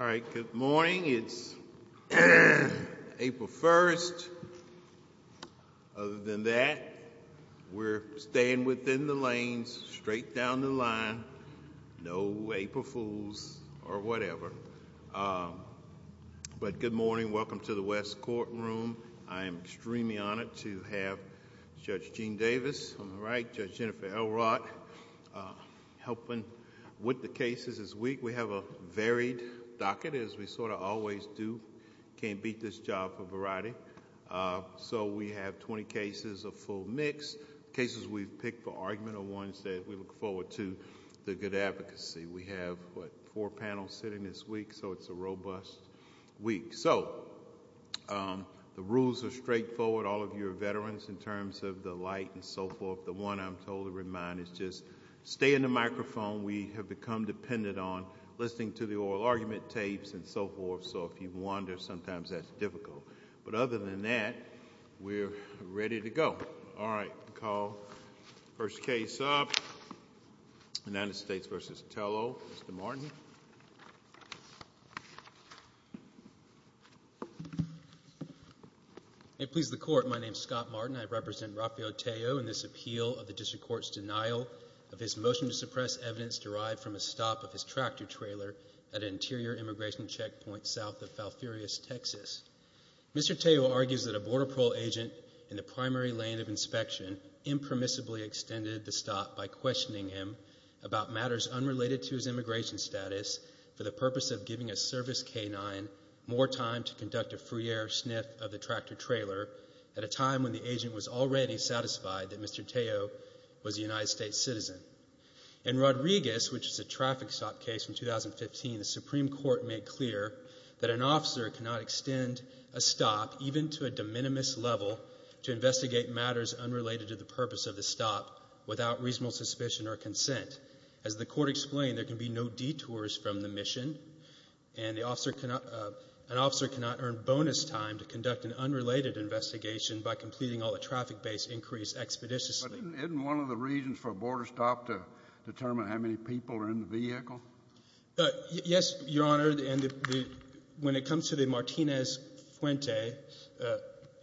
All right. Good morning. It's April 1st. Other than that, we're staying within the lanes, straight down the line. No April Fools or whatever. But good morning. Welcome to the West Courtroom. I am extremely honored to have Judge Gene Davis on the right, Judge Jennifer Elrod helping with the cases this week. We have a varied docket, as we sort of always do. Can't beat this job for variety. So we have 20 cases, a full mix. Cases we've picked for argument are ones that we look forward to the good advocacy. We have, what, four panels sitting this week, so it's a robust week. So the rules are straightforward. All of you are veterans in terms of the light and so forth. The one I'm told to remind is just stay in the microphone. We have become dependent on listening to the oral argument tapes and so forth. So if you wander, sometimes that's difficult. But other than that, we're ready to go. All right. We'll call the first case up. United States v. Tello. Mr. Martin. May it please the Court, my name's Scott Martin. I represent Rafael Tello in this appeal of the District Court's denial of his motion to suppress evidence derived from a stop of his tractor trailer at an interior immigration checkpoint south of Falfurrias, Texas. Mr. Tello argues that a Border Patrol agent in the primary lane of inspection impermissibly extended the stop by questioning him about matters unrelated to his immigration status for the purpose of giving a service K-9 more time to conduct a free air sniff of the tractor trailer at a time when the agent was already satisfied that Mr. Tello was a United States citizen. In Rodriguez, which is a traffic stop case from 2015, the Supreme Court made clear that an officer cannot extend a stop even to a de minimis level to investigate matters unrelated to the purpose of the stop without reasonable suspicion or consent. As the Court explained, there can be no detours from the mission, and an officer cannot earn bonus time to conduct an unrelated investigation by completing all the traffic base increase expeditiously. But isn't one of the reasons for a border stop to determine how many people are in the vehicle? Yes, Your Honor, and when it comes to the Martinez-Fuente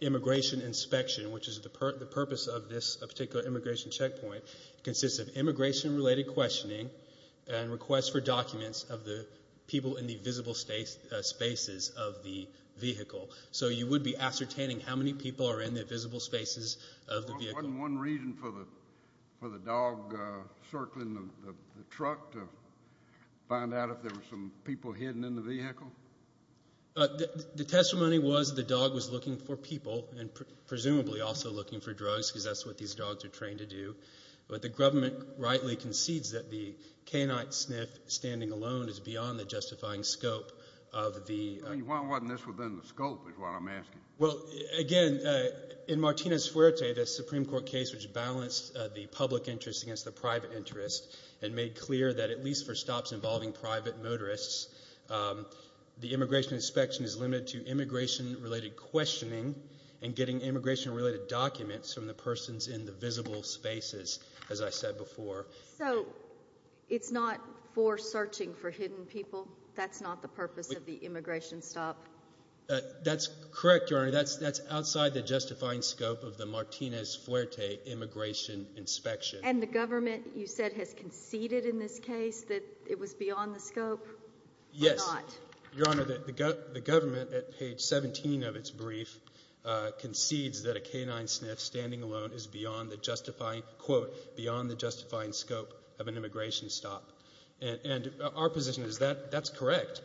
immigration inspection, which is the purpose of this particular immigration checkpoint, it consists of immigration-related questioning and requests for documents of the people in the visible spaces of the vehicle. So you would be ascertaining how many people are in the visible spaces of the vehicle? Wasn't one reason for the dog circling the truck to find out if there were some people hidden in the vehicle? The testimony was the dog was looking for people and presumably also looking for drugs, because that's what these dogs are trained to do. But the government rightly concedes that the canine sniff standing alone is beyond the justifying scope of the... I mean, why wasn't this within the scope is what I'm asking. Well, again, in Martinez-Fuente, the Supreme Court case which balanced the public interest against the private interest and made clear that at least for stops involving private motorists, the immigration inspection is limited to immigration-related questioning and getting immigration-related documents from the persons in the visible spaces, as I said before. So it's not for searching for hidden people? That's not the purpose of the immigration stop? That's correct, Your Honor. That's outside the justifying scope of the Martinez-Fuente immigration inspection. And the government, you said, has conceded in this case that it was beyond the scope? Yes. Or not? Your Honor, the government at page 17 of its brief concedes that a canine sniff standing alone is beyond the justifying scope of an immigration stop. And our position is that that's correct.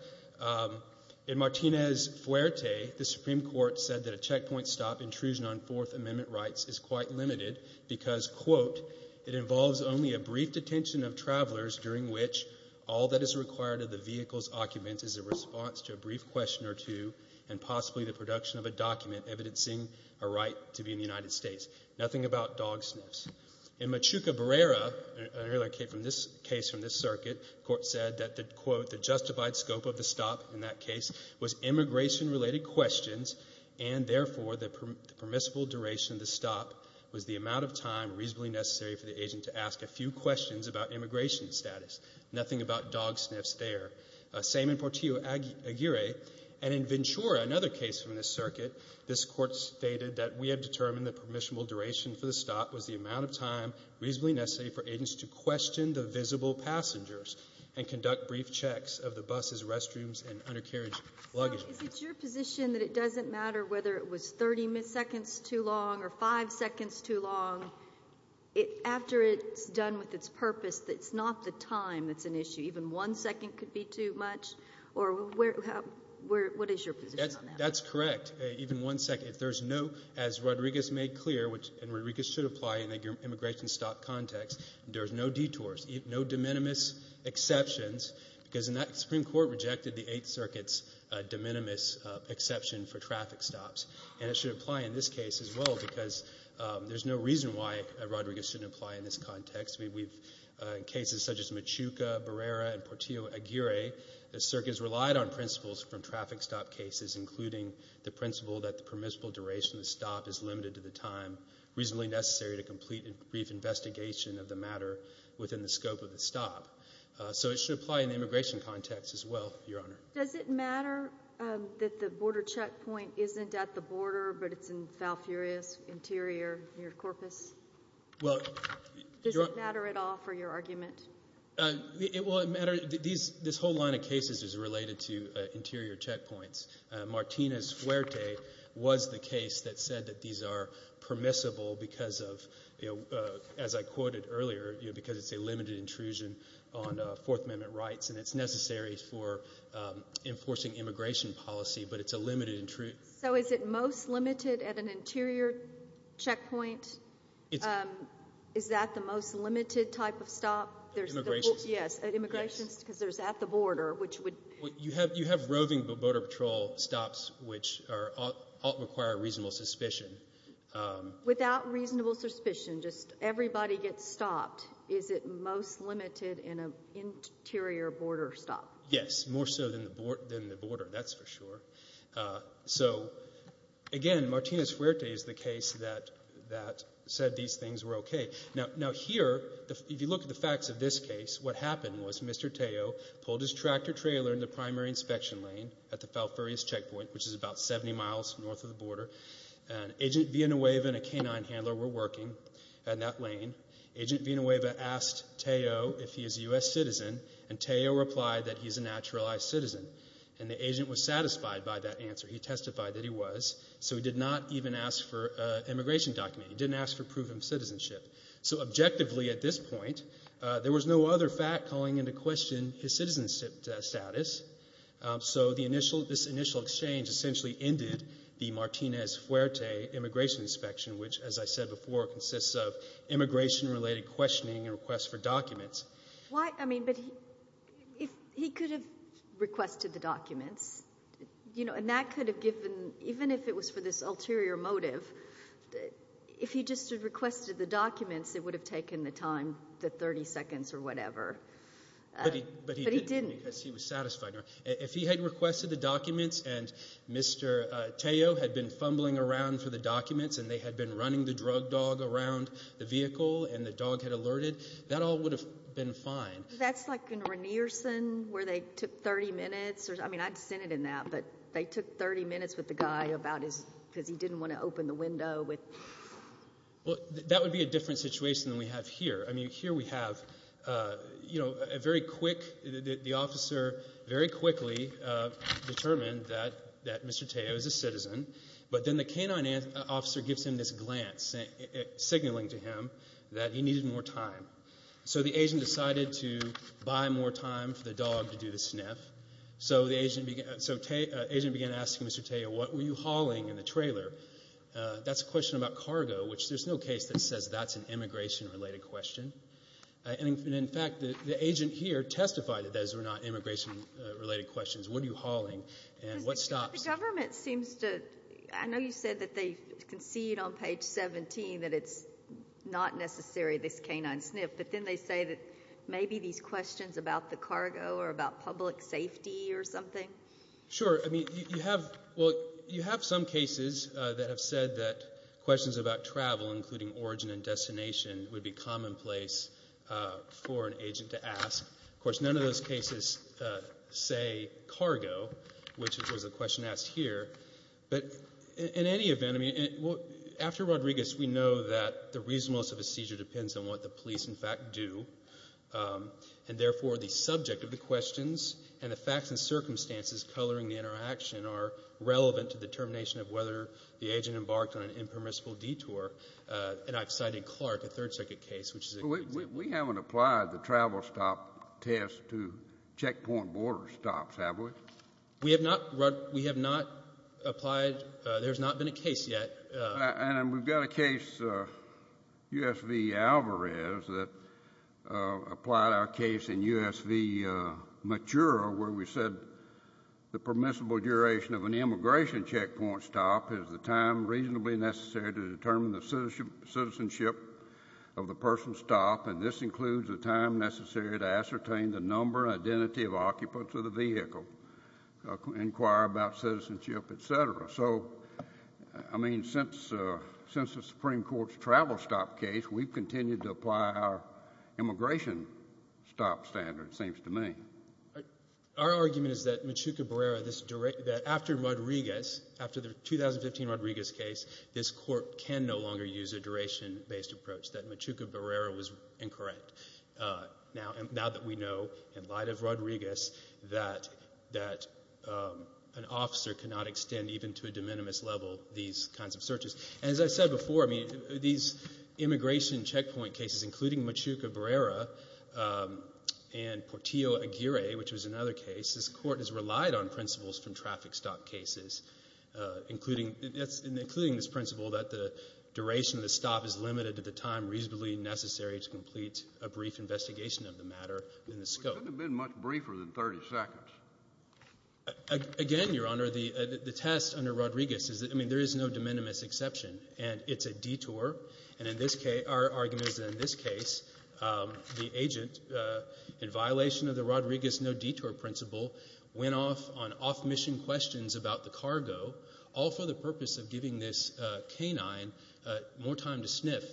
In Martinez-Fuente, the Supreme Court said that a checkpoint stop intrusion on Fourth Amendment rights is quite limited because, quote, it involves only a brief detention of travelers during which all that is required of the vehicle's occupant is a response to a brief question or two and possibly the production of a document evidencing a right to be in the United States. Nothing about dog sniffs. In Machuca Barrera, an earlier case from this circuit, the court said that, quote, the justified duration of the stop was the amount of time reasonably necessary for the agent to ask a few questions about immigration status. Nothing about dog sniffs there. Same in Portillo-Aguirre. And in Ventura, another case from this circuit, this Court stated that we have determined the permissible duration for the stop was the amount of time reasonably necessary for agents to question the visible passengers and conduct brief checks of the buses, restrooms, and undercarriage luggage. Is it your position that it doesn't matter whether it was 30 seconds too long or 5 seconds too long? After it's done with its purpose, it's not the time that's an issue? Even one second could be too much? Or what is your position on that? That's correct. Even one second. If there's no, as Rodriguez made clear, and Rodriguez should apply in the immigration stop context, there's no detours, no de minimis exceptions, because the Supreme Court rejected the Eighth Circuit's de minimis exception for traffic stops. And it should apply in this case as well because there's no reason why Rodriguez shouldn't apply in this context. In cases such as Machuca, Barrera, and Portillo-Aguirre, the circuit has relied on principles from traffic stop cases, including the principle that the permissible duration of the stop is limited to the time reasonably necessary to complete a brief investigation of the matter within the scope of the stop. So it should apply in the immigration context as well, Your Honor. Does it matter that the border checkpoint isn't at the border but it's in Falfurrias Interior near Corpus? Does it matter at all for your argument? It will matter. This whole line of cases is related to interior checkpoints. Martinez-Fuerte was the case that said that these are permissible because of, as I quoted earlier, because it's a limited intrusion on Fourth Amendment rights and it's necessary for enforcing immigration policy, but it's a limited intrusion. So is it most limited at an interior checkpoint? Is that the most limited type of stop? Immigration. Yes, at immigration because there's at the border, which would— You have roving border patrol stops, which ought to require reasonable suspicion. Without reasonable suspicion, just everybody gets stopped. Is it most limited in an interior border stop? Yes, more so than the border, that's for sure. So again, Martinez-Fuerte is the case that said these things were okay. Now here, if you look at the facts of this case, what happened was Mr. Teo pulled his tractor trailer in the primary inspection lane at the Falfurrias checkpoint, which is about 70 miles north of the border, and Agent Villanueva and a canine handler were working in that lane. Agent Villanueva asked Teo if he is a U.S. citizen, and Teo replied that he's a naturalized citizen, and the agent was satisfied by that answer. He testified that he was, so he did not even ask for an immigration document. He didn't ask for proven citizenship. So objectively at this point, there was no other fact calling into question his citizenship status, so this initial exchange essentially ended the Martinez-Fuerte immigration inspection, which, as I said before, consists of immigration-related questioning and requests for documents. Why, I mean, but he could have requested the documents, and that could have given, even if it was for this ulterior motive, if he just had requested the documents, it would have taken the time, the 30 seconds or whatever, but he didn't. He was satisfied. If he had requested the documents and Mr. Teo had been fumbling around for the documents and they had been running the drug dog around the vehicle and the dog had alerted, that all would have been fine. That's like in Renierson where they took 30 minutes. I mean, I'd send it in that, but they took 30 minutes with the guy because he didn't want to open the window. Well, that would be a different situation than we have here. I mean, here we have a very quick, the officer very quickly determined that Mr. Teo is a citizen, but then the canine officer gives him this glance signaling to him that he needed more time. So the agent decided to buy more time for the dog to do the sniff. So the agent began asking Mr. Teo, what were you hauling in the trailer? That's a question about cargo, which there's no case that says that's an immigration-related question. And, in fact, the agent here testified that those were not immigration-related questions. What are you hauling and what stops you? The government seems to, I know you said that they concede on page 17 that it's not necessary, this canine sniff, but then they say that maybe these questions about the cargo or about public safety or something. Sure. I mean, you have, well, you have some cases that have said that questions about travel, including origin and destination, would be commonplace for an agent to ask. Of course, none of those cases say cargo, which was a question asked here. But, in any event, I mean, after Rodriguez, we know that the reasonableness of a seizure depends on what the police, in fact, do, and, therefore, the subject of the questions and the facts and circumstances coloring the interaction are relevant to the determination of whether the agent embarked on an impermissible detour. And I've cited Clark, a third-circuit case, which is a good example. We haven't applied the travel stop test to checkpoint border stops, have we? We have not applied. There's not been a case yet. And we've got a case, U.S. v. Alvarez, that applied our case in U.S. v. Matura, where we said the permissible duration of an immigration checkpoint stop is the time reasonably necessary to determine the citizenship of the person stopped, and this includes the time necessary to ascertain the number and identity of occupants of the vehicle, inquire about citizenship, et cetera. So, I mean, since the Supreme Court's travel stop case, we've continued to apply our immigration stop standard, it seems to me. Our argument is that Machuca-Berrera, that after Rodriguez, after the 2015 Rodriguez case, this court can no longer use a duration-based approach, that Machuca-Berrera was incorrect. Now that we know, in light of Rodriguez, that an officer cannot extend even to a de minimis level these kinds of searches. And as I said before, I mean, these immigration checkpoint cases, including Machuca-Berrera and Portillo-Aguirre, which was another case, this court has relied on principles from traffic stop cases, including this principle that the duration of the stop is limited to the time reasonably necessary to complete a brief investigation of the matter in the scope. It shouldn't have been much briefer than 30 seconds. Again, Your Honor, the test under Rodriguez is that, I mean, there is no de minimis exception, and it's a detour, and in this case, our argument is that in this case, the agent, in violation of the Rodriguez no-detour principle, went off on off-mission questions about the cargo, all for the purpose of giving this canine more time to sniff.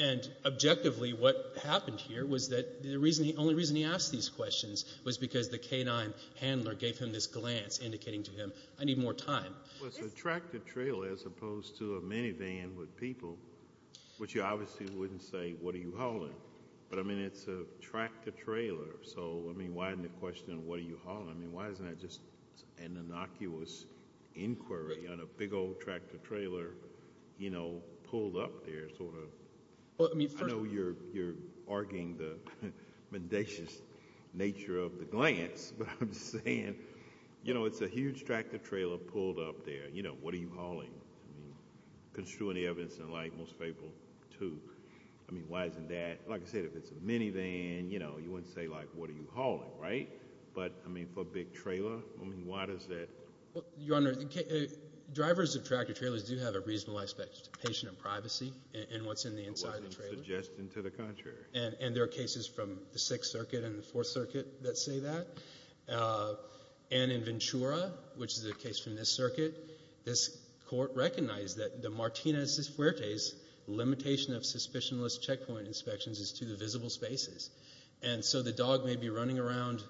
And objectively, what happened here was that the only reason he asked these questions was because the canine handler gave him this glance indicating to him, I need more time. It was a tractor trailer as opposed to a minivan with people, which you obviously wouldn't say, what are you hauling? But, I mean, it's a tractor trailer, so, I mean, why isn't the question, what are you hauling? I mean, why isn't that just an innocuous inquiry on a big old tractor trailer, you know, pulled up there sort of? I know you're arguing the mendacious nature of the glance, but I'm just saying, you know, it's a huge tractor trailer pulled up there. You know, what are you hauling? I mean, construing the evidence in light, most people, too. I mean, why isn't that, like I said, if it's a minivan, you know, you wouldn't say, like, what are you hauling, right? But, I mean, for a big trailer, I mean, why does that? Your Honor, drivers of tractor trailers do have a reasonable aspect to patient and privacy in what's in the inside of the trailer. It wasn't suggesting to the contrary. And there are cases from the Sixth Circuit and the Fourth Circuit that say that. And in Ventura, which is a case from this circuit, this court recognized that the Martinez-Fuerte's limitation of suspicionless checkpoint inspections is to the visible spaces. And so the dog may be running around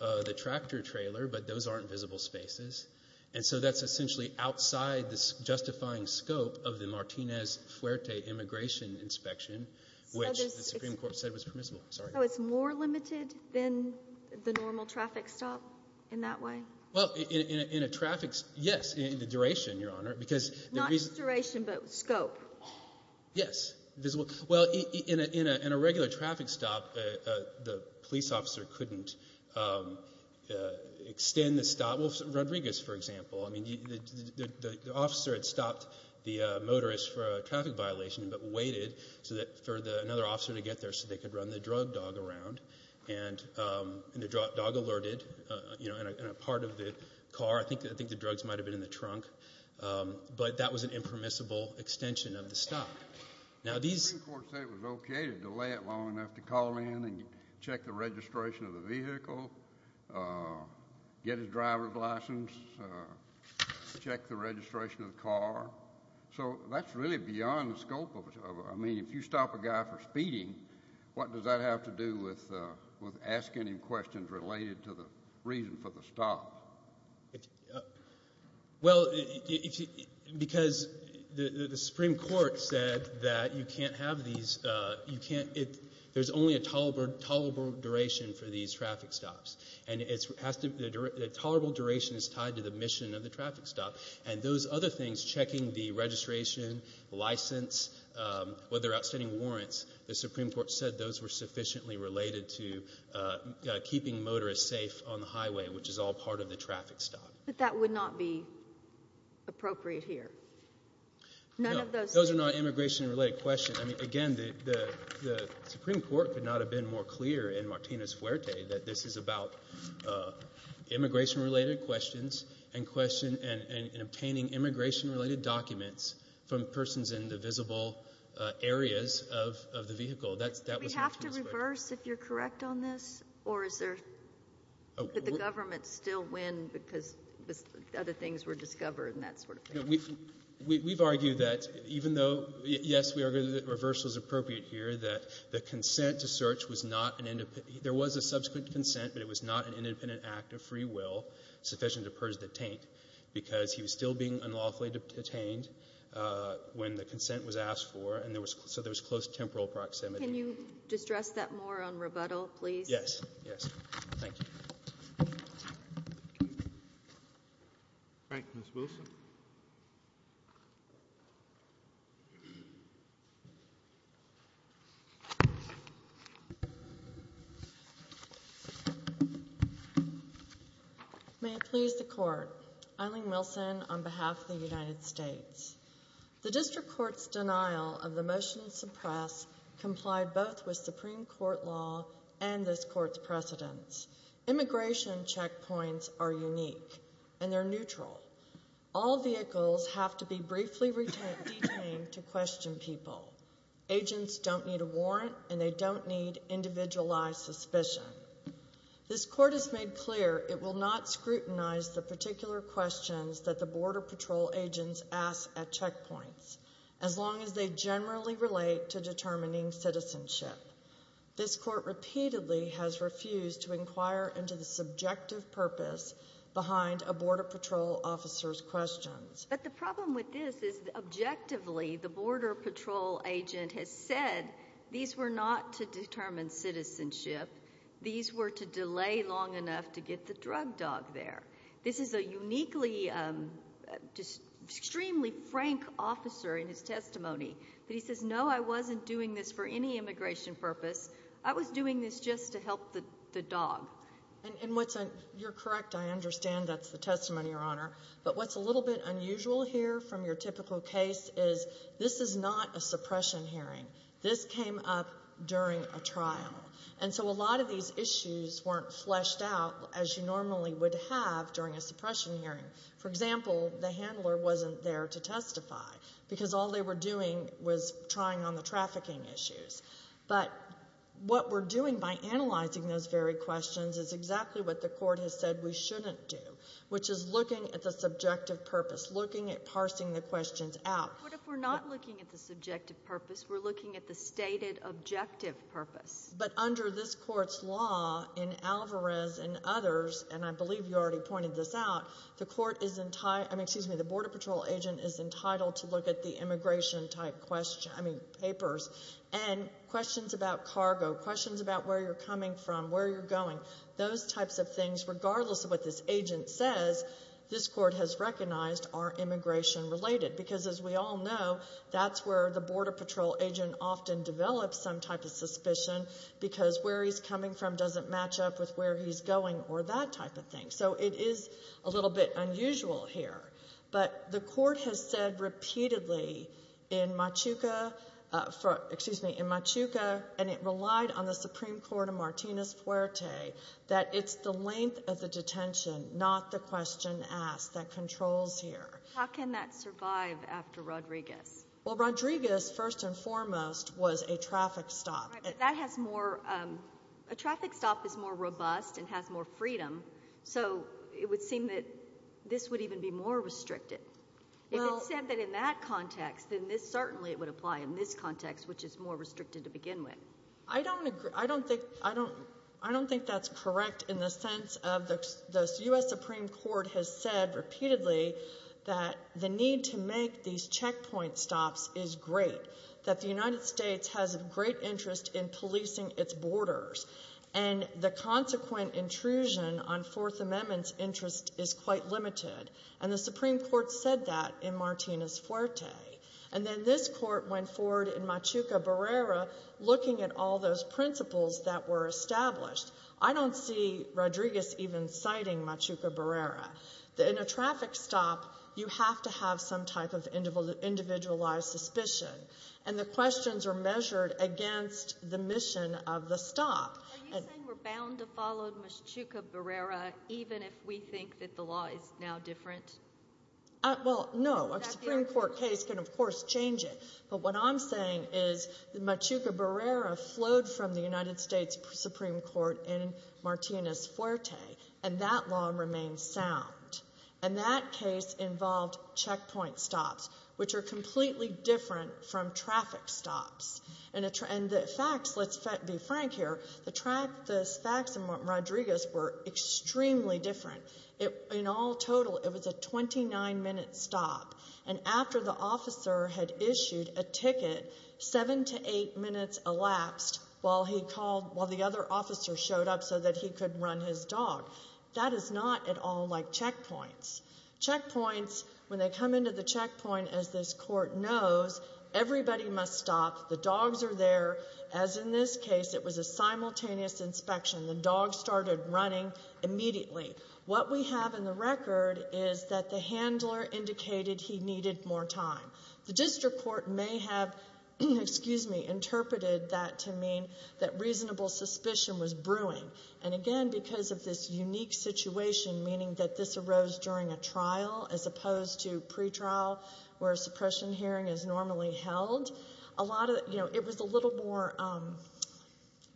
the tractor trailer, but those aren't visible spaces. And so that's essentially outside the justifying scope of the Martinez-Fuerte immigration inspection, which the Supreme Court said was permissible. Oh, it's more limited than the normal traffic stop in that way? Well, in a traffic stop, yes, in the duration, Your Honor. Not duration, but scope. Yes. Well, in a regular traffic stop, the police officer couldn't extend the stop. Well, Rodriguez, for example, I mean, the officer had stopped the motorist for a traffic violation but waited for another officer to get there so they could run the drug dog around. And the dog alerted in a part of the car. I think the drugs might have been in the trunk. But that was an impermissible extension of the stop. The Supreme Court said it was okay to delay it long enough to call in and check the registration of the vehicle, get his driver's license, check the registration of the car. So that's really beyond the scope of it. I mean, if you stop a guy for speeding, what does that have to do with asking him questions related to the reason for the stop? Well, because the Supreme Court said that you can't have these, there's only a tolerable duration for these traffic stops. And the tolerable duration is tied to the mission of the traffic stop. And those other things, checking the registration, license, whether there are outstanding warrants, the Supreme Court said those were sufficiently related to keeping motorists safe on the highway, which is all part of the traffic stop. But that would not be appropriate here. Those are not immigration-related questions. I mean, again, the Supreme Court could not have been more clear in Martinez-Fuerte that this is about immigration-related questions and obtaining immigration-related documents from persons in the visible areas of the vehicle. Do we have to reverse, if you're correct on this? Or could the government still win because other things were discovered and that sort of thing? We've argued that even though, yes, we argue that reverse was appropriate here, that the consent to search was not an independent – there was a subsequent consent, but it was not an independent act of free will sufficient to purge the detaint because he was still being unlawfully detained when the consent was asked for, and so there was close temporal proximity. Can you distress that more on rebuttal, please? Yes, yes. Thank you. Thank you. Thank you, Ms. Wilson. May it please the Court. Eileen Wilson on behalf of the United States. The district court's denial of the motion to suppress complied both with Supreme Court law and this Court's precedents. Immigration checkpoints are unique, and they're neutral. All vehicles have to be briefly detained to question people. Agents don't need a warrant, and they don't need individualized suspicion. This Court has made clear it will not scrutinize the particular questions that the Border Patrol agents ask at checkpoints, as long as they generally relate to determining citizenship. This Court repeatedly has refused to inquire into the subjective purpose behind a Border Patrol officer's questions. But the problem with this is objectively the Border Patrol agent has said these were not to determine citizenship. These were to delay long enough to get the drug dog there. This is a uniquely, extremely frank officer in his testimony, but he says, no, I wasn't doing this for any immigration purpose. I was doing this just to help the dog. And, Wilson, you're correct. I understand that's the testimony, Your Honor. But what's a little bit unusual here from your typical case is this is not a suppression hearing. This came up during a trial. And so a lot of these issues weren't fleshed out as you normally would have during a suppression hearing. For example, the handler wasn't there to testify because all they were doing was trying on the trafficking issues. But what we're doing by analyzing those very questions is exactly what the Court has said we shouldn't do, which is looking at the subjective purpose, looking at parsing the questions out. What if we're not looking at the subjective purpose? We're looking at the stated objective purpose. But under this Court's law, in Alvarez and others, and I believe you already pointed this out, the Border Patrol agent is entitled to look at the immigration-type papers and questions about cargo, questions about where you're coming from, where you're going, those types of things, regardless of what this agent says, this Court has recognized are immigration-related because, as we all know, that's where the Border Patrol agent often develops some type of suspicion because where he's coming from doesn't match up with where he's going or that type of thing. So it is a little bit unusual here. But the Court has said repeatedly in Machuca, and it relied on the Supreme Court of Martinez-Puerte, that it's the length of the detention, not the question asked, that controls here. How can that survive after Rodriguez? Well, Rodriguez, first and foremost, was a traffic stop. A traffic stop is more robust and has more freedom. So it would seem that this would even be more restricted. If it's said that in that context, then certainly it would apply in this context, which is more restricted to begin with. I don't think that's correct in the sense of the U.S. Supreme Court has said repeatedly that the need to make these checkpoint stops is great, that the United States has a great interest in policing its borders, and the consequent intrusion on Fourth Amendment's interest is quite limited. And the Supreme Court said that in Martinez-Puerte. And then this Court went forward in Machuca-Berrera looking at all those principles that were established. I don't see Rodriguez even citing Machuca-Berrera. In a traffic stop, you have to have some type of individualized suspicion. And the questions are measured against the mission of the stop. Are you saying we're bound to follow Machuca-Berrera even if we think that the law is now different? Well, no. A Supreme Court case can, of course, change it. But what I'm saying is Machuca-Berrera flowed from the United States Supreme Court in Martinez-Puerte, and that law remains sound. And that case involved checkpoint stops, which are completely different from traffic stops. And the facts, let's be frank here, the facts in Rodriguez were extremely different. In all total, it was a 29-minute stop. And after the officer had issued a ticket, seven to eight minutes elapsed while the other officer showed up so that he could run his dog. That is not at all like checkpoints. Checkpoints, when they come into the checkpoint, as this Court knows, everybody must stop. The dogs are there. As in this case, it was a simultaneous inspection. The dogs started running immediately. What we have in the record is that the handler indicated he needed more time. The district court may have interpreted that to mean that reasonable suspicion was brewing. And, again, because of this unique situation, meaning that this arose during a trial as opposed to pretrial where a suppression hearing is normally held, it was a little more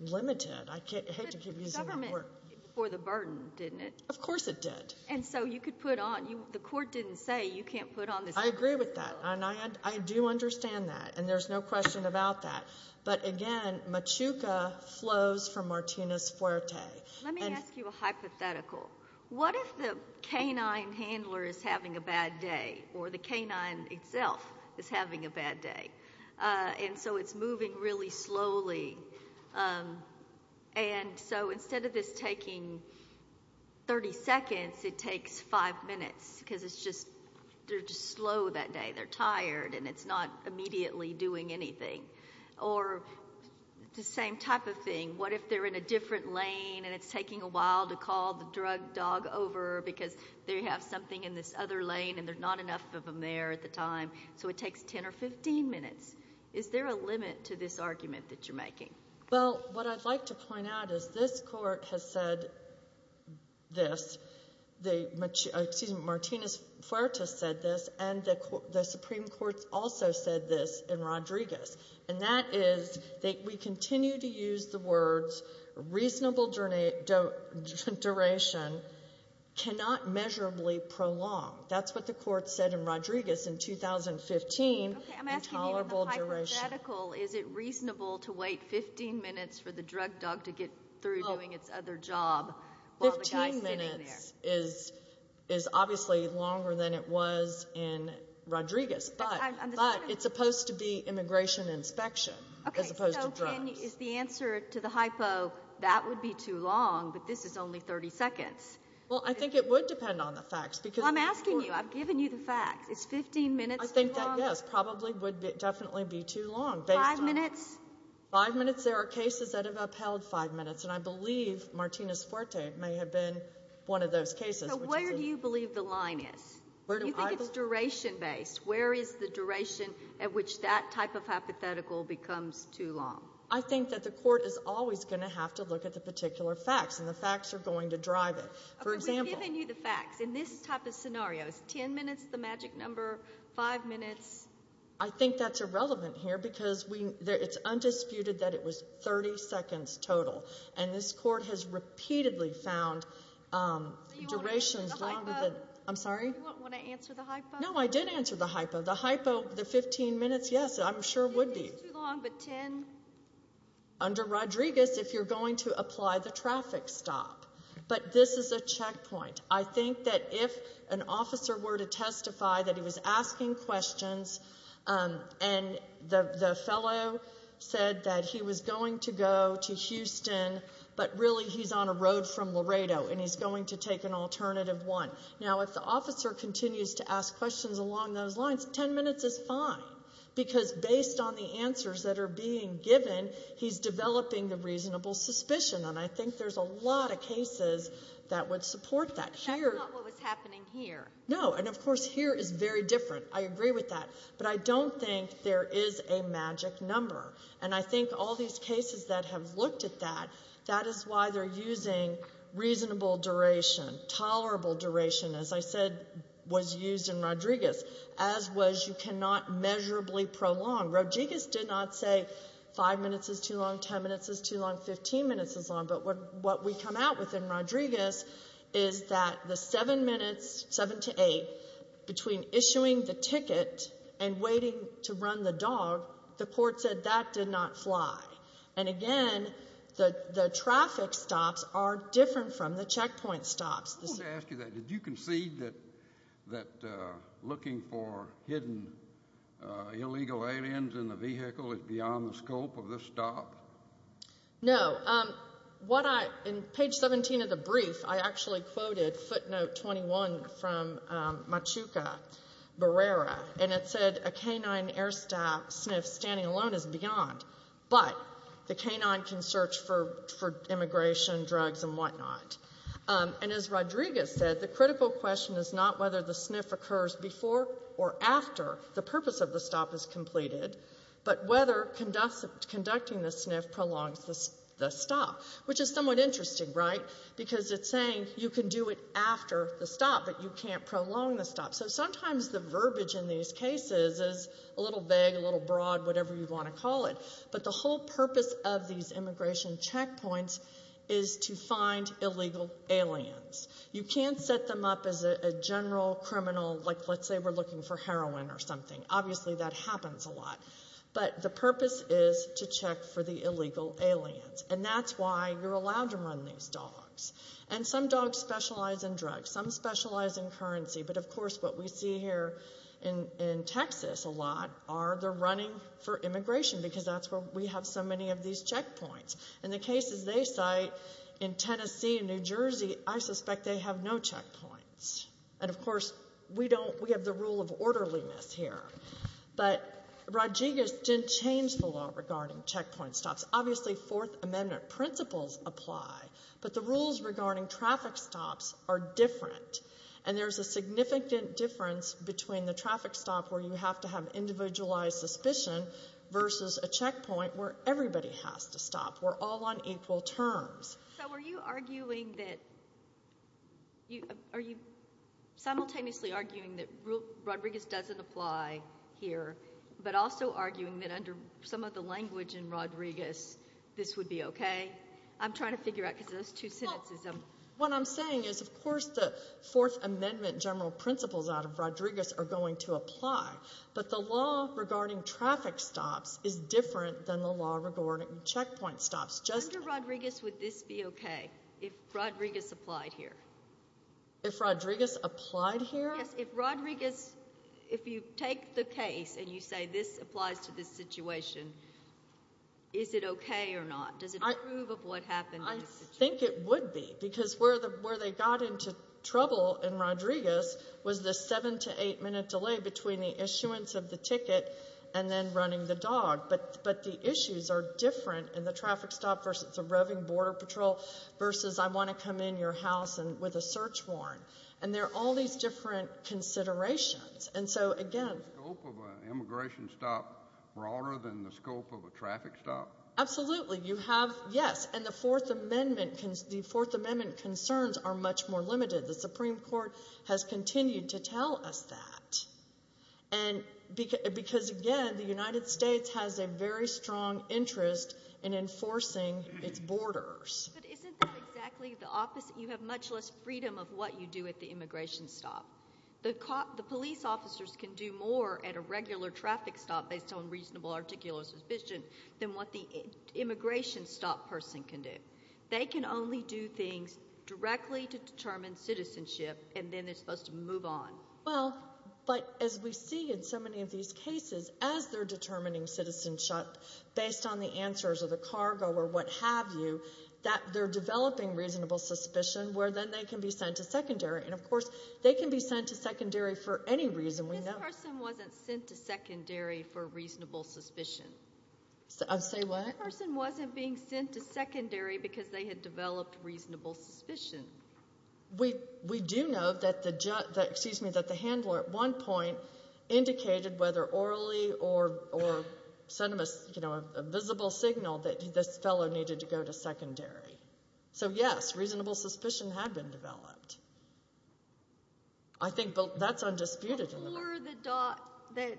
limited. I hate to keep using that word. But the government did it for the burden, didn't it? Of course it did. And so you could put on, the Court didn't say you can't put on this burden. I agree with that, and I do understand that, and there's no question about that. But, again, Machuca flows from Martinez-Fuerte. Let me ask you a hypothetical. What if the canine handler is having a bad day or the canine itself is having a bad day? And so it's moving really slowly. And so instead of this taking 30 seconds, it takes five minutes because it's just slow that day. They're tired and it's not immediately doing anything. Or the same type of thing. What if they're in a different lane and it's taking a while to call the drug dog over because they have something in this other lane and there's not enough of them there at the time? So it takes 10 or 15 minutes. Is there a limit to this argument that you're making? Well, what I'd like to point out is this Court has said this. Excuse me, Martinez-Fuerte said this, and the Supreme Court also said this in Rodriguez. And that is that we continue to use the words reasonable duration cannot measurably prolong. That's what the Court said in Rodriguez in 2015. Okay, I'm asking you in the hypothetical, is it reasonable to wait 15 minutes for the drug dog to get through doing its other job while the guy is sitting there? Fifteen minutes is obviously longer than it was in Rodriguez, but it's supposed to be immigration inspection as opposed to drugs. Okay, so is the answer to the hypo that would be too long, but this is only 30 seconds? Well, I think it would depend on the facts. Well, I'm asking you. I've given you the facts. Is 15 minutes too long? I think that, yes, probably would definitely be too long. Five minutes? Five minutes. There are cases that have upheld five minutes. And I believe Martinez-Fuerte may have been one of those cases. So where do you believe the line is? Do you think it's duration-based? Where is the duration at which that type of hypothetical becomes too long? I think that the Court is always going to have to look at the particular facts, and the facts are going to drive it. For example— Okay, we've given you the facts. In this type of scenario, is 10 minutes the magic number? Five minutes? I think that's irrelevant here because it's undisputed that it was 30 seconds total. And this Court has repeatedly found durations longer than— So you want to answer the hypo? I'm sorry? You want to answer the hypo? No, I did answer the hypo. The hypo, the 15 minutes, yes, I'm sure would be. 15 minutes is too long, but 10? Under Rodriguez, if you're going to apply the traffic stop. But this is a checkpoint. I think that if an officer were to testify that he was asking questions and the fellow said that he was going to go to Houston, but really he's on a road from Laredo and he's going to take an alternative one. Now, if the officer continues to ask questions along those lines, 10 minutes is fine because based on the answers that are being given, he's developing the reasonable suspicion. And I think there's a lot of cases that would support that. But that's not what was happening here. No, and, of course, here is very different. I agree with that. But I don't think there is a magic number. And I think all these cases that have looked at that, that is why they're using reasonable duration, tolerable duration, as I said was used in Rodriguez, as was you cannot measurably prolong. Rodriguez did not say 5 minutes is too long, 10 minutes is too long, 15 minutes is long. But what we come out with in Rodriguez is that the 7 minutes, 7 to 8, between issuing the ticket and waiting to run the dog, the court said that did not fly. And, again, the traffic stops are different from the checkpoint stops. I wanted to ask you that. Did you concede that looking for hidden illegal aliens in the vehicle is beyond the scope of this stop? No. In page 17 of the brief, I actually quoted footnote 21 from Machuca Barrera, and it said a canine air staff sniff standing alone is beyond, but the canine can search for immigration, drugs, and whatnot. And as Rodriguez said, the critical question is not whether the sniff occurs before or after the purpose of the stop is completed, but whether conducting the sniff prolongs the stop, which is somewhat interesting, right, because it's saying you can do it after the stop, but you can't prolong the stop. So sometimes the verbiage in these cases is a little vague, a little broad, whatever you want to call it. But the whole purpose of these immigration checkpoints is to find illegal aliens. You can't set them up as a general criminal, like let's say we're looking for heroin or something. Obviously that happens a lot. But the purpose is to check for the illegal aliens, and that's why you're allowed to run these dogs. And some dogs specialize in drugs. Some specialize in currency. But, of course, what we see here in Texas a lot are they're running for immigration because that's where we have so many of these checkpoints. In the cases they cite in Tennessee and New Jersey, I suspect they have no checkpoints. And, of course, we don't. We have the rule of orderliness here. But Rodriguez didn't change the law regarding checkpoint stops. Obviously Fourth Amendment principles apply, but the rules regarding traffic stops are different, and there's a significant difference between the traffic stop where you have to have individualized suspicion versus a checkpoint where everybody has to stop. We're all on equal terms. So are you arguing that you simultaneously arguing that Rodriguez doesn't apply here, but also arguing that under some of the language in Rodriguez this would be okay? I'm trying to figure out because those two sentences. What I'm saying is, of course, the Fourth Amendment general principles out of Rodriguez are going to apply, but the law regarding traffic stops is different than the law regarding checkpoint stops. Under Rodriguez would this be okay if Rodriguez applied here? If Rodriguez applied here? Yes, if Rodriguez, if you take the case and you say this applies to this situation, is it okay or not? Does it prove of what happened in this situation? I think it would be because where they got into trouble in Rodriguez was the seven to eight minute delay between the issuance of the ticket and then running the dog. But the issues are different in the traffic stop versus the roving border patrol versus I want to come in your house with a search warrant. And there are all these different considerations. And so, again. Is the scope of an immigration stop broader than the scope of a traffic stop? Absolutely. You have, yes. And the Fourth Amendment concerns are much more limited. The Supreme Court has continued to tell us that. Because, again, the United States has a very strong interest in enforcing its borders. But isn't that exactly the opposite? You have much less freedom of what you do at the immigration stop. The police officers can do more at a regular traffic stop based on reasonable, articulate suspicion than what the immigration stop person can do. They can only do things directly to determine citizenship, and then they're supposed to move on. Well, but as we see in so many of these cases, as they're determining citizenship based on the answers or the cargo or what have you, that they're developing reasonable suspicion where then they can be sent to secondary. And, of course, they can be sent to secondary for any reason we know. This person wasn't sent to secondary for reasonable suspicion. Say what? This person wasn't being sent to secondary because they had developed reasonable suspicion. We do know that the handler at one point indicated whether orally or sent him a visible signal that this fellow needed to go to secondary. So, yes, reasonable suspicion had been developed. I think that's undisputed in the record. Or the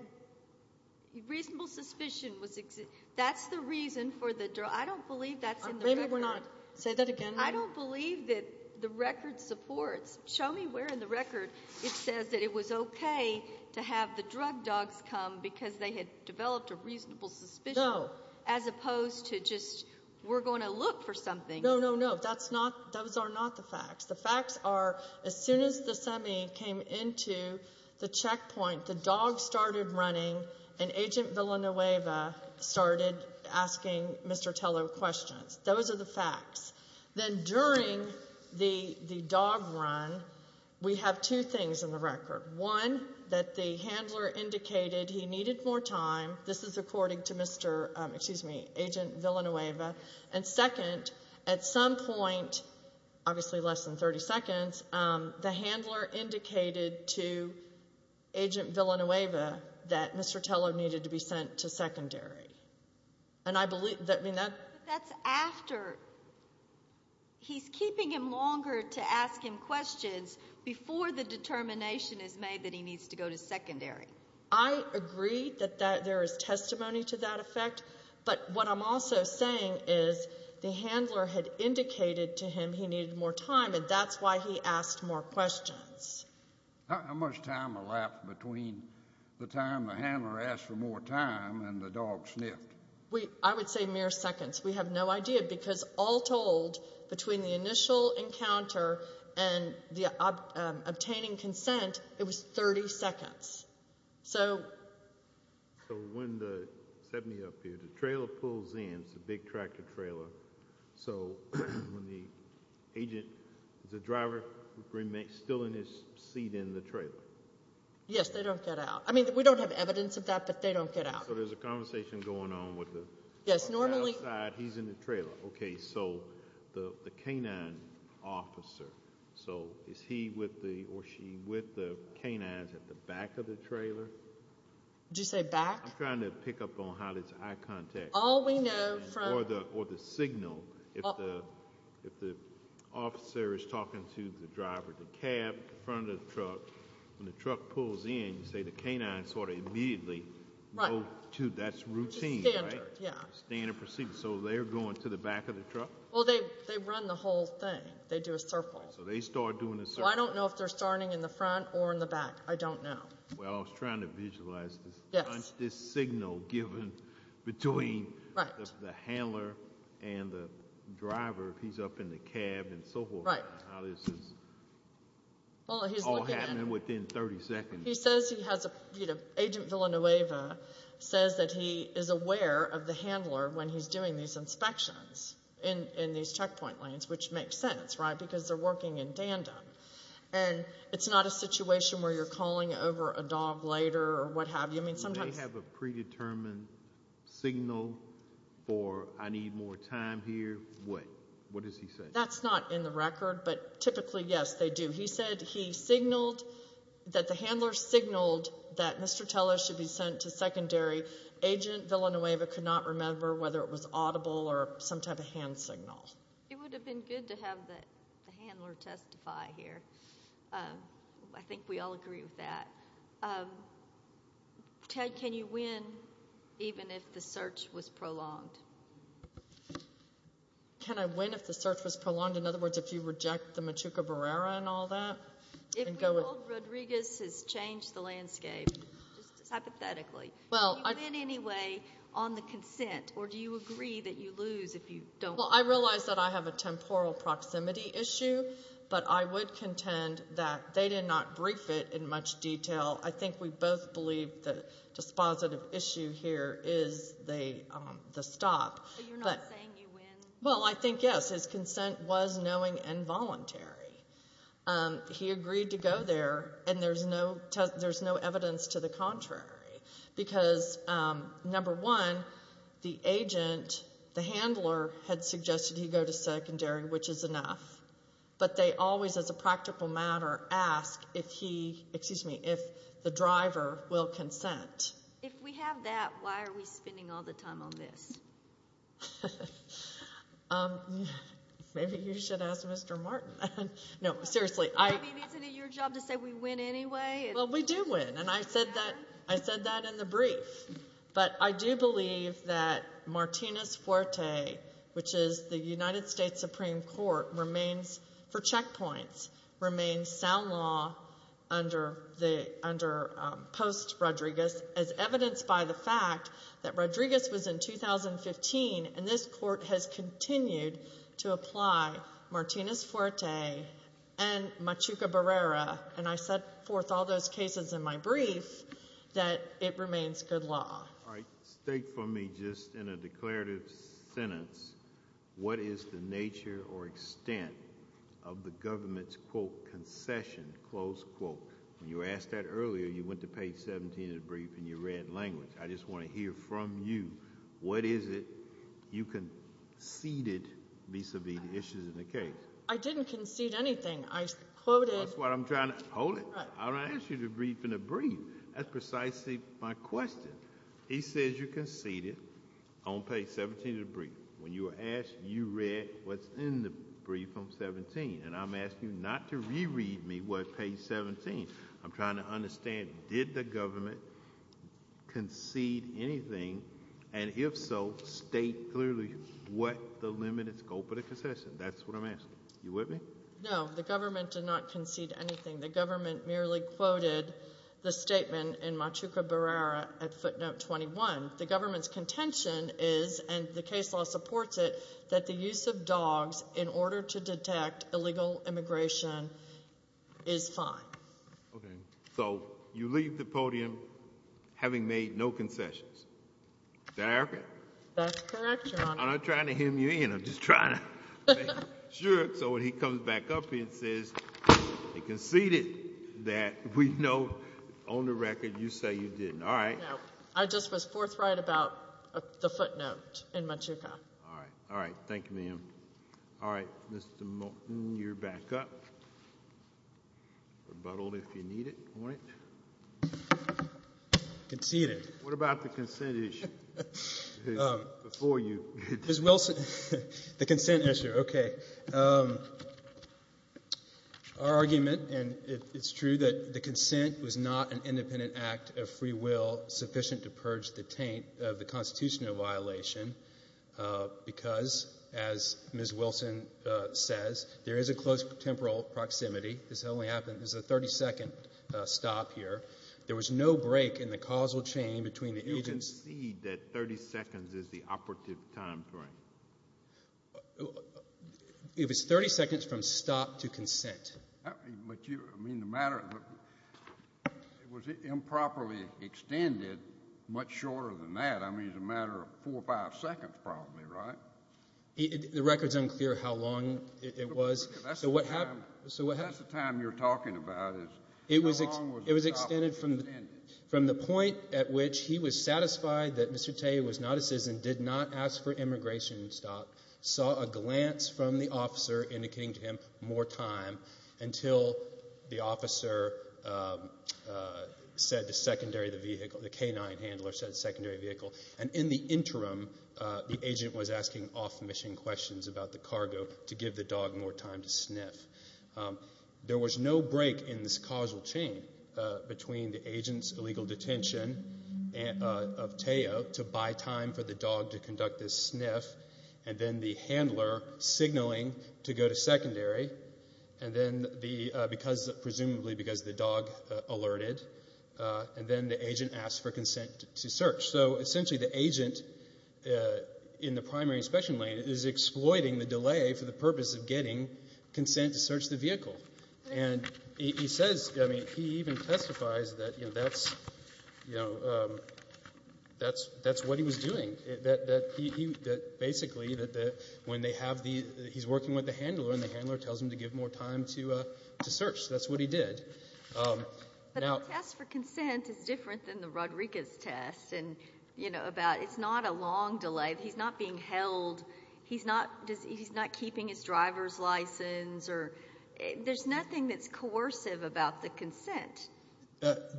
reasonable suspicion was existing. That's the reason for the drug. I don't believe that's in the record. Maybe we're not. Say that again. I don't believe that the record supports. Show me where in the record it says that it was okay to have the drug dogs come because they had developed a reasonable suspicion. No. As opposed to just we're going to look for something. No, no, no. Those are not the facts. The facts are as soon as the semi came into the checkpoint, the dog started running, and Agent Villanueva started asking Mr. Tello questions. Those are the facts. Then during the dog run, we have two things in the record. One, that the handler indicated he needed more time. This is according to Agent Villanueva. And second, at some point, obviously less than 30 seconds, the handler indicated to Agent Villanueva that Mr. Tello needed to be sent to secondary. But that's after. He's keeping him longer to ask him questions before the determination is made that he needs to go to secondary. I agree that there is testimony to that effect. But what I'm also saying is the handler had indicated to him he needed more time, and that's why he asked more questions. How much time elapsed between the time the handler asked for more time and the dog sniffed? I would say mere seconds. We have no idea because all told, between the initial encounter and the obtaining consent, it was 30 seconds. So when the 70 up here, the trailer pulls in. It's a big tractor trailer. So when the agent, the driver remains still in his seat in the trailer. Yes, they don't get out. I mean, we don't have evidence of that, but they don't get out. So there's a conversation going on with the driver outside. He's in the trailer. Okay, so the canine officer, so is he or she with the canines at the back of the trailer? Did you say back? I'm trying to pick up on how it's eye contact. All we know from— Or the signal. If the officer is talking to the driver, the cab in front of the truck, when the truck pulls in, you say the canine sort of immediately go to. That's routine, right? It's standard, yeah. Standard procedure. So they're going to the back of the truck? Well, they run the whole thing. They do a circle. So they start doing a circle. So I don't know if they're starting in the front or in the back. I don't know. Well, I was trying to visualize this. Yes. This signal given between the handler and the driver. He's up in the cab and so forth. Right. How this is all happening within 30 seconds. Agent Villanueva says that he is aware of the handler when he's doing these inspections in these checkpoint lanes, which makes sense, right, because they're working in tandem. And it's not a situation where you're calling over a dog later or what have you. They have a predetermined signal for I need more time here. What does he say? That's not in the record, but typically, yes, they do. He said he signaled that the handler signaled that Mr. Teller should be sent to secondary. Agent Villanueva could not remember whether it was audible or some type of hand signal. It would have been good to have the handler testify here. I think we all agree with that. Ted, can you win even if the search was prolonged? Can I win if the search was prolonged? In other words, if you reject the Machuca Barrera and all that? If we hold Rodriguez has changed the landscape, just hypothetically, do you win anyway on the consent or do you agree that you lose if you don't? Well, I realize that I have a temporal proximity issue, but I would contend that they did not brief it in much detail. I think we both believe the dispositive issue here is the stop. So you're not saying you win? Well, I think, yes. His consent was knowing and voluntary. He agreed to go there, and there's no evidence to the contrary. Because, number one, the agent, the handler, had suggested he go to secondary, which is enough. But they always, as a practical matter, ask if the driver will consent. If we have that, why are we spending all the time on this? Maybe you should ask Mr. Martin. No, seriously. I mean, isn't it your job to say we win anyway? Well, we do win, and I said that in the brief. But I do believe that Martinez-Fuerte, which is the United States Supreme Court, remains, for checkpoints, remains sound law under Post-Rodriguez, as evidenced by the fact that Rodriguez was in 2015, and this Court has continued to apply Martinez-Fuerte and Machuca-Barrera, and I set forth all those cases in my brief, that it remains good law. All right. State for me, just in a declarative sentence, what is the nature or extent of the government's, quote, concession, close quote. When you were asked that earlier, you went to page 17 of the brief and you read language. I just want to hear from you what is it you conceded vis-à-vis the issues in the case. I didn't concede anything. I quoted— That's what I'm trying to—hold it. I'm going to ask you the brief in a brief. That's precisely my question. He says you conceded on page 17 of the brief. When you were asked, you read what's in the brief on page 17, and I'm asking you not to reread me what's on page 17. I'm trying to understand, did the government concede anything, and if so, state clearly what the limited scope of the concession. That's what I'm asking. Are you with me? No, the government did not concede anything. The government merely quoted the statement in Machuca Barrera at footnote 21. The government's contention is, and the case law supports it, that the use of dogs in order to detect illegal immigration is fine. Okay. So you leave the podium having made no concessions. Is that accurate? That's correct, Your Honor. I'm not trying to hem you in. I'm just trying to make sure. So when he comes back up here and says he conceded, that we know on the record you say you didn't. All right. No. I just was forthright about the footnote in Machuca. All right. All right. Thank you, ma'am. All right. Mr. Moten, you're back up. Rebuttal, if you need it. Conceded. What about the consent issue? Before you. Ms. Wilson. The consent issue. Okay. Our argument, and it's true, that the consent was not an independent act of free will sufficient to purge the taint of the constitutional violation because, as Ms. Wilson says, there is a close temporal proximity. This only happened as a 30-second stop here. There was no break in the causal chain between the agents. Did he concede that 30 seconds is the operative time frame? It was 30 seconds from stop to consent. I mean, the matter was improperly extended much shorter than that. I mean, it's a matter of four or five seconds probably, right? The record's unclear how long it was. That's the time you're talking about is how long was the stop extended? From the point at which he was satisfied that Mr. Tay was not a citizen, did not ask for immigration stop, saw a glance from the officer indicating to him more time until the officer said to secondary the vehicle, the canine handler said secondary vehicle, and in the interim the agent was asking off-mission questions about the cargo to give the dog more time to sniff. There was no break in this causal chain between the agent's illegal detention of Tayo to buy time for the dog to conduct this sniff, and then the handler signaling to go to secondary, presumably because the dog alerted, and then the agent asked for consent to search. So essentially the agent in the primary inspection lane is exploiting the delay for the purpose of getting consent to search the vehicle. And he says, I mean, he even testifies that, you know, that's what he was doing, that basically when they have the he's working with the handler and the handler tells him to give more time to search. That's what he did. But the test for consent is different than the Rodriguez test, you know, about it's not a long delay. He's not being held. He's not keeping his driver's license. There's nothing that's coercive about the consent.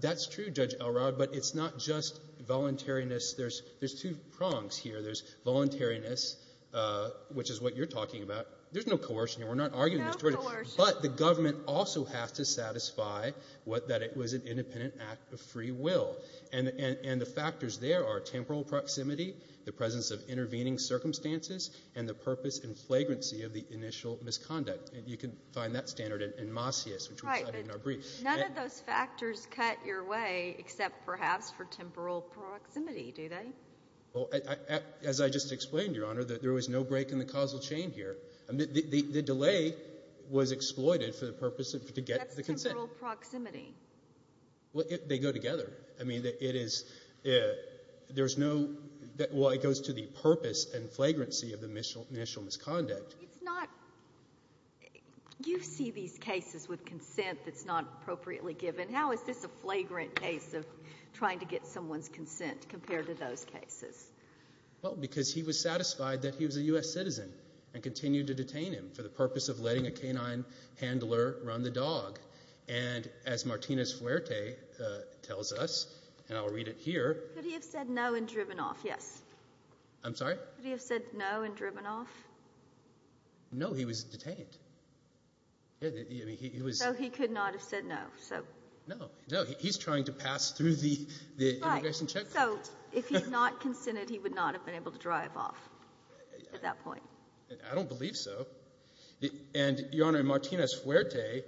That's true, Judge Elrod, but it's not just voluntariness. There's two prongs here. There's voluntariness, which is what you're talking about. There's no coercion here. We're not arguing this. There's no coercion. But the government also has to satisfy that it was an independent act of free will. And the factors there are temporal proximity, the presence of intervening circumstances, and the purpose and flagrancy of the initial misconduct. And you can find that standard in Macias, which we cited in our brief. Right, but none of those factors cut your way except perhaps for temporal proximity, do they? Well, as I just explained, Your Honor, there was no break in the causal chain here. The delay was exploited for the purpose of to get the consent. That's temporal proximity. Well, they go together. I mean, it is, there's no, well, it goes to the purpose and flagrancy of the initial misconduct. It's not, you see these cases with consent that's not appropriately given. How is this a flagrant case of trying to get someone's consent compared to those cases? Well, because he was satisfied that he was a U.S. citizen and continued to detain him for the purpose of letting a canine handler run the dog. And as Martinez-Fuerte tells us, and I'll read it here. Could he have said no and driven off? Yes. I'm sorry? Could he have said no and driven off? No, he was detained. So he could not have said no. No, no, he's trying to pass through the immigration checkpoints. Right, so if he had not consented, he would not have been able to drive off at that point. I don't believe so. And, Your Honor, in Martinez-Fuerte,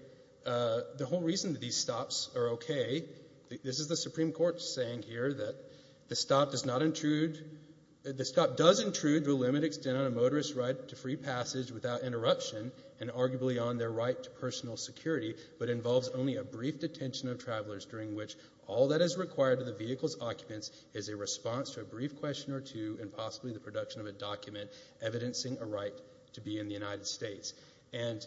the whole reason that these stops are okay, this is the Supreme Court saying here that the stop does intrude to a limited extent on a motorist's right to free passage without interruption and arguably on their right to personal security, but involves only a brief detention of travelers during which all that is required to the vehicle's occupants is a response to a brief question or two and possibly the production of a document evidencing a right to be in the United States. And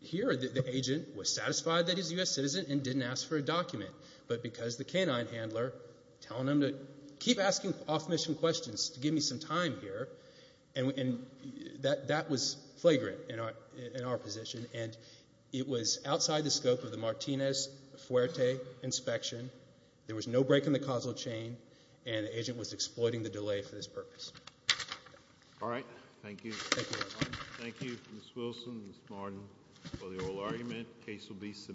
here the agent was satisfied that he's a U.S. citizen and didn't ask for a document, but because the canine handler, telling him to keep asking off-mission questions, to give me some time here, and that was flagrant in our position. And it was outside the scope of the Martinez-Fuerte inspection. There was no break in the causal chain, and the agent was exploiting the delay for this purpose. All right. Thank you. Thank you, Your Honor. Thank you, Ms. Wilson, Ms. Martin, for the oral argument. The case will be submitted.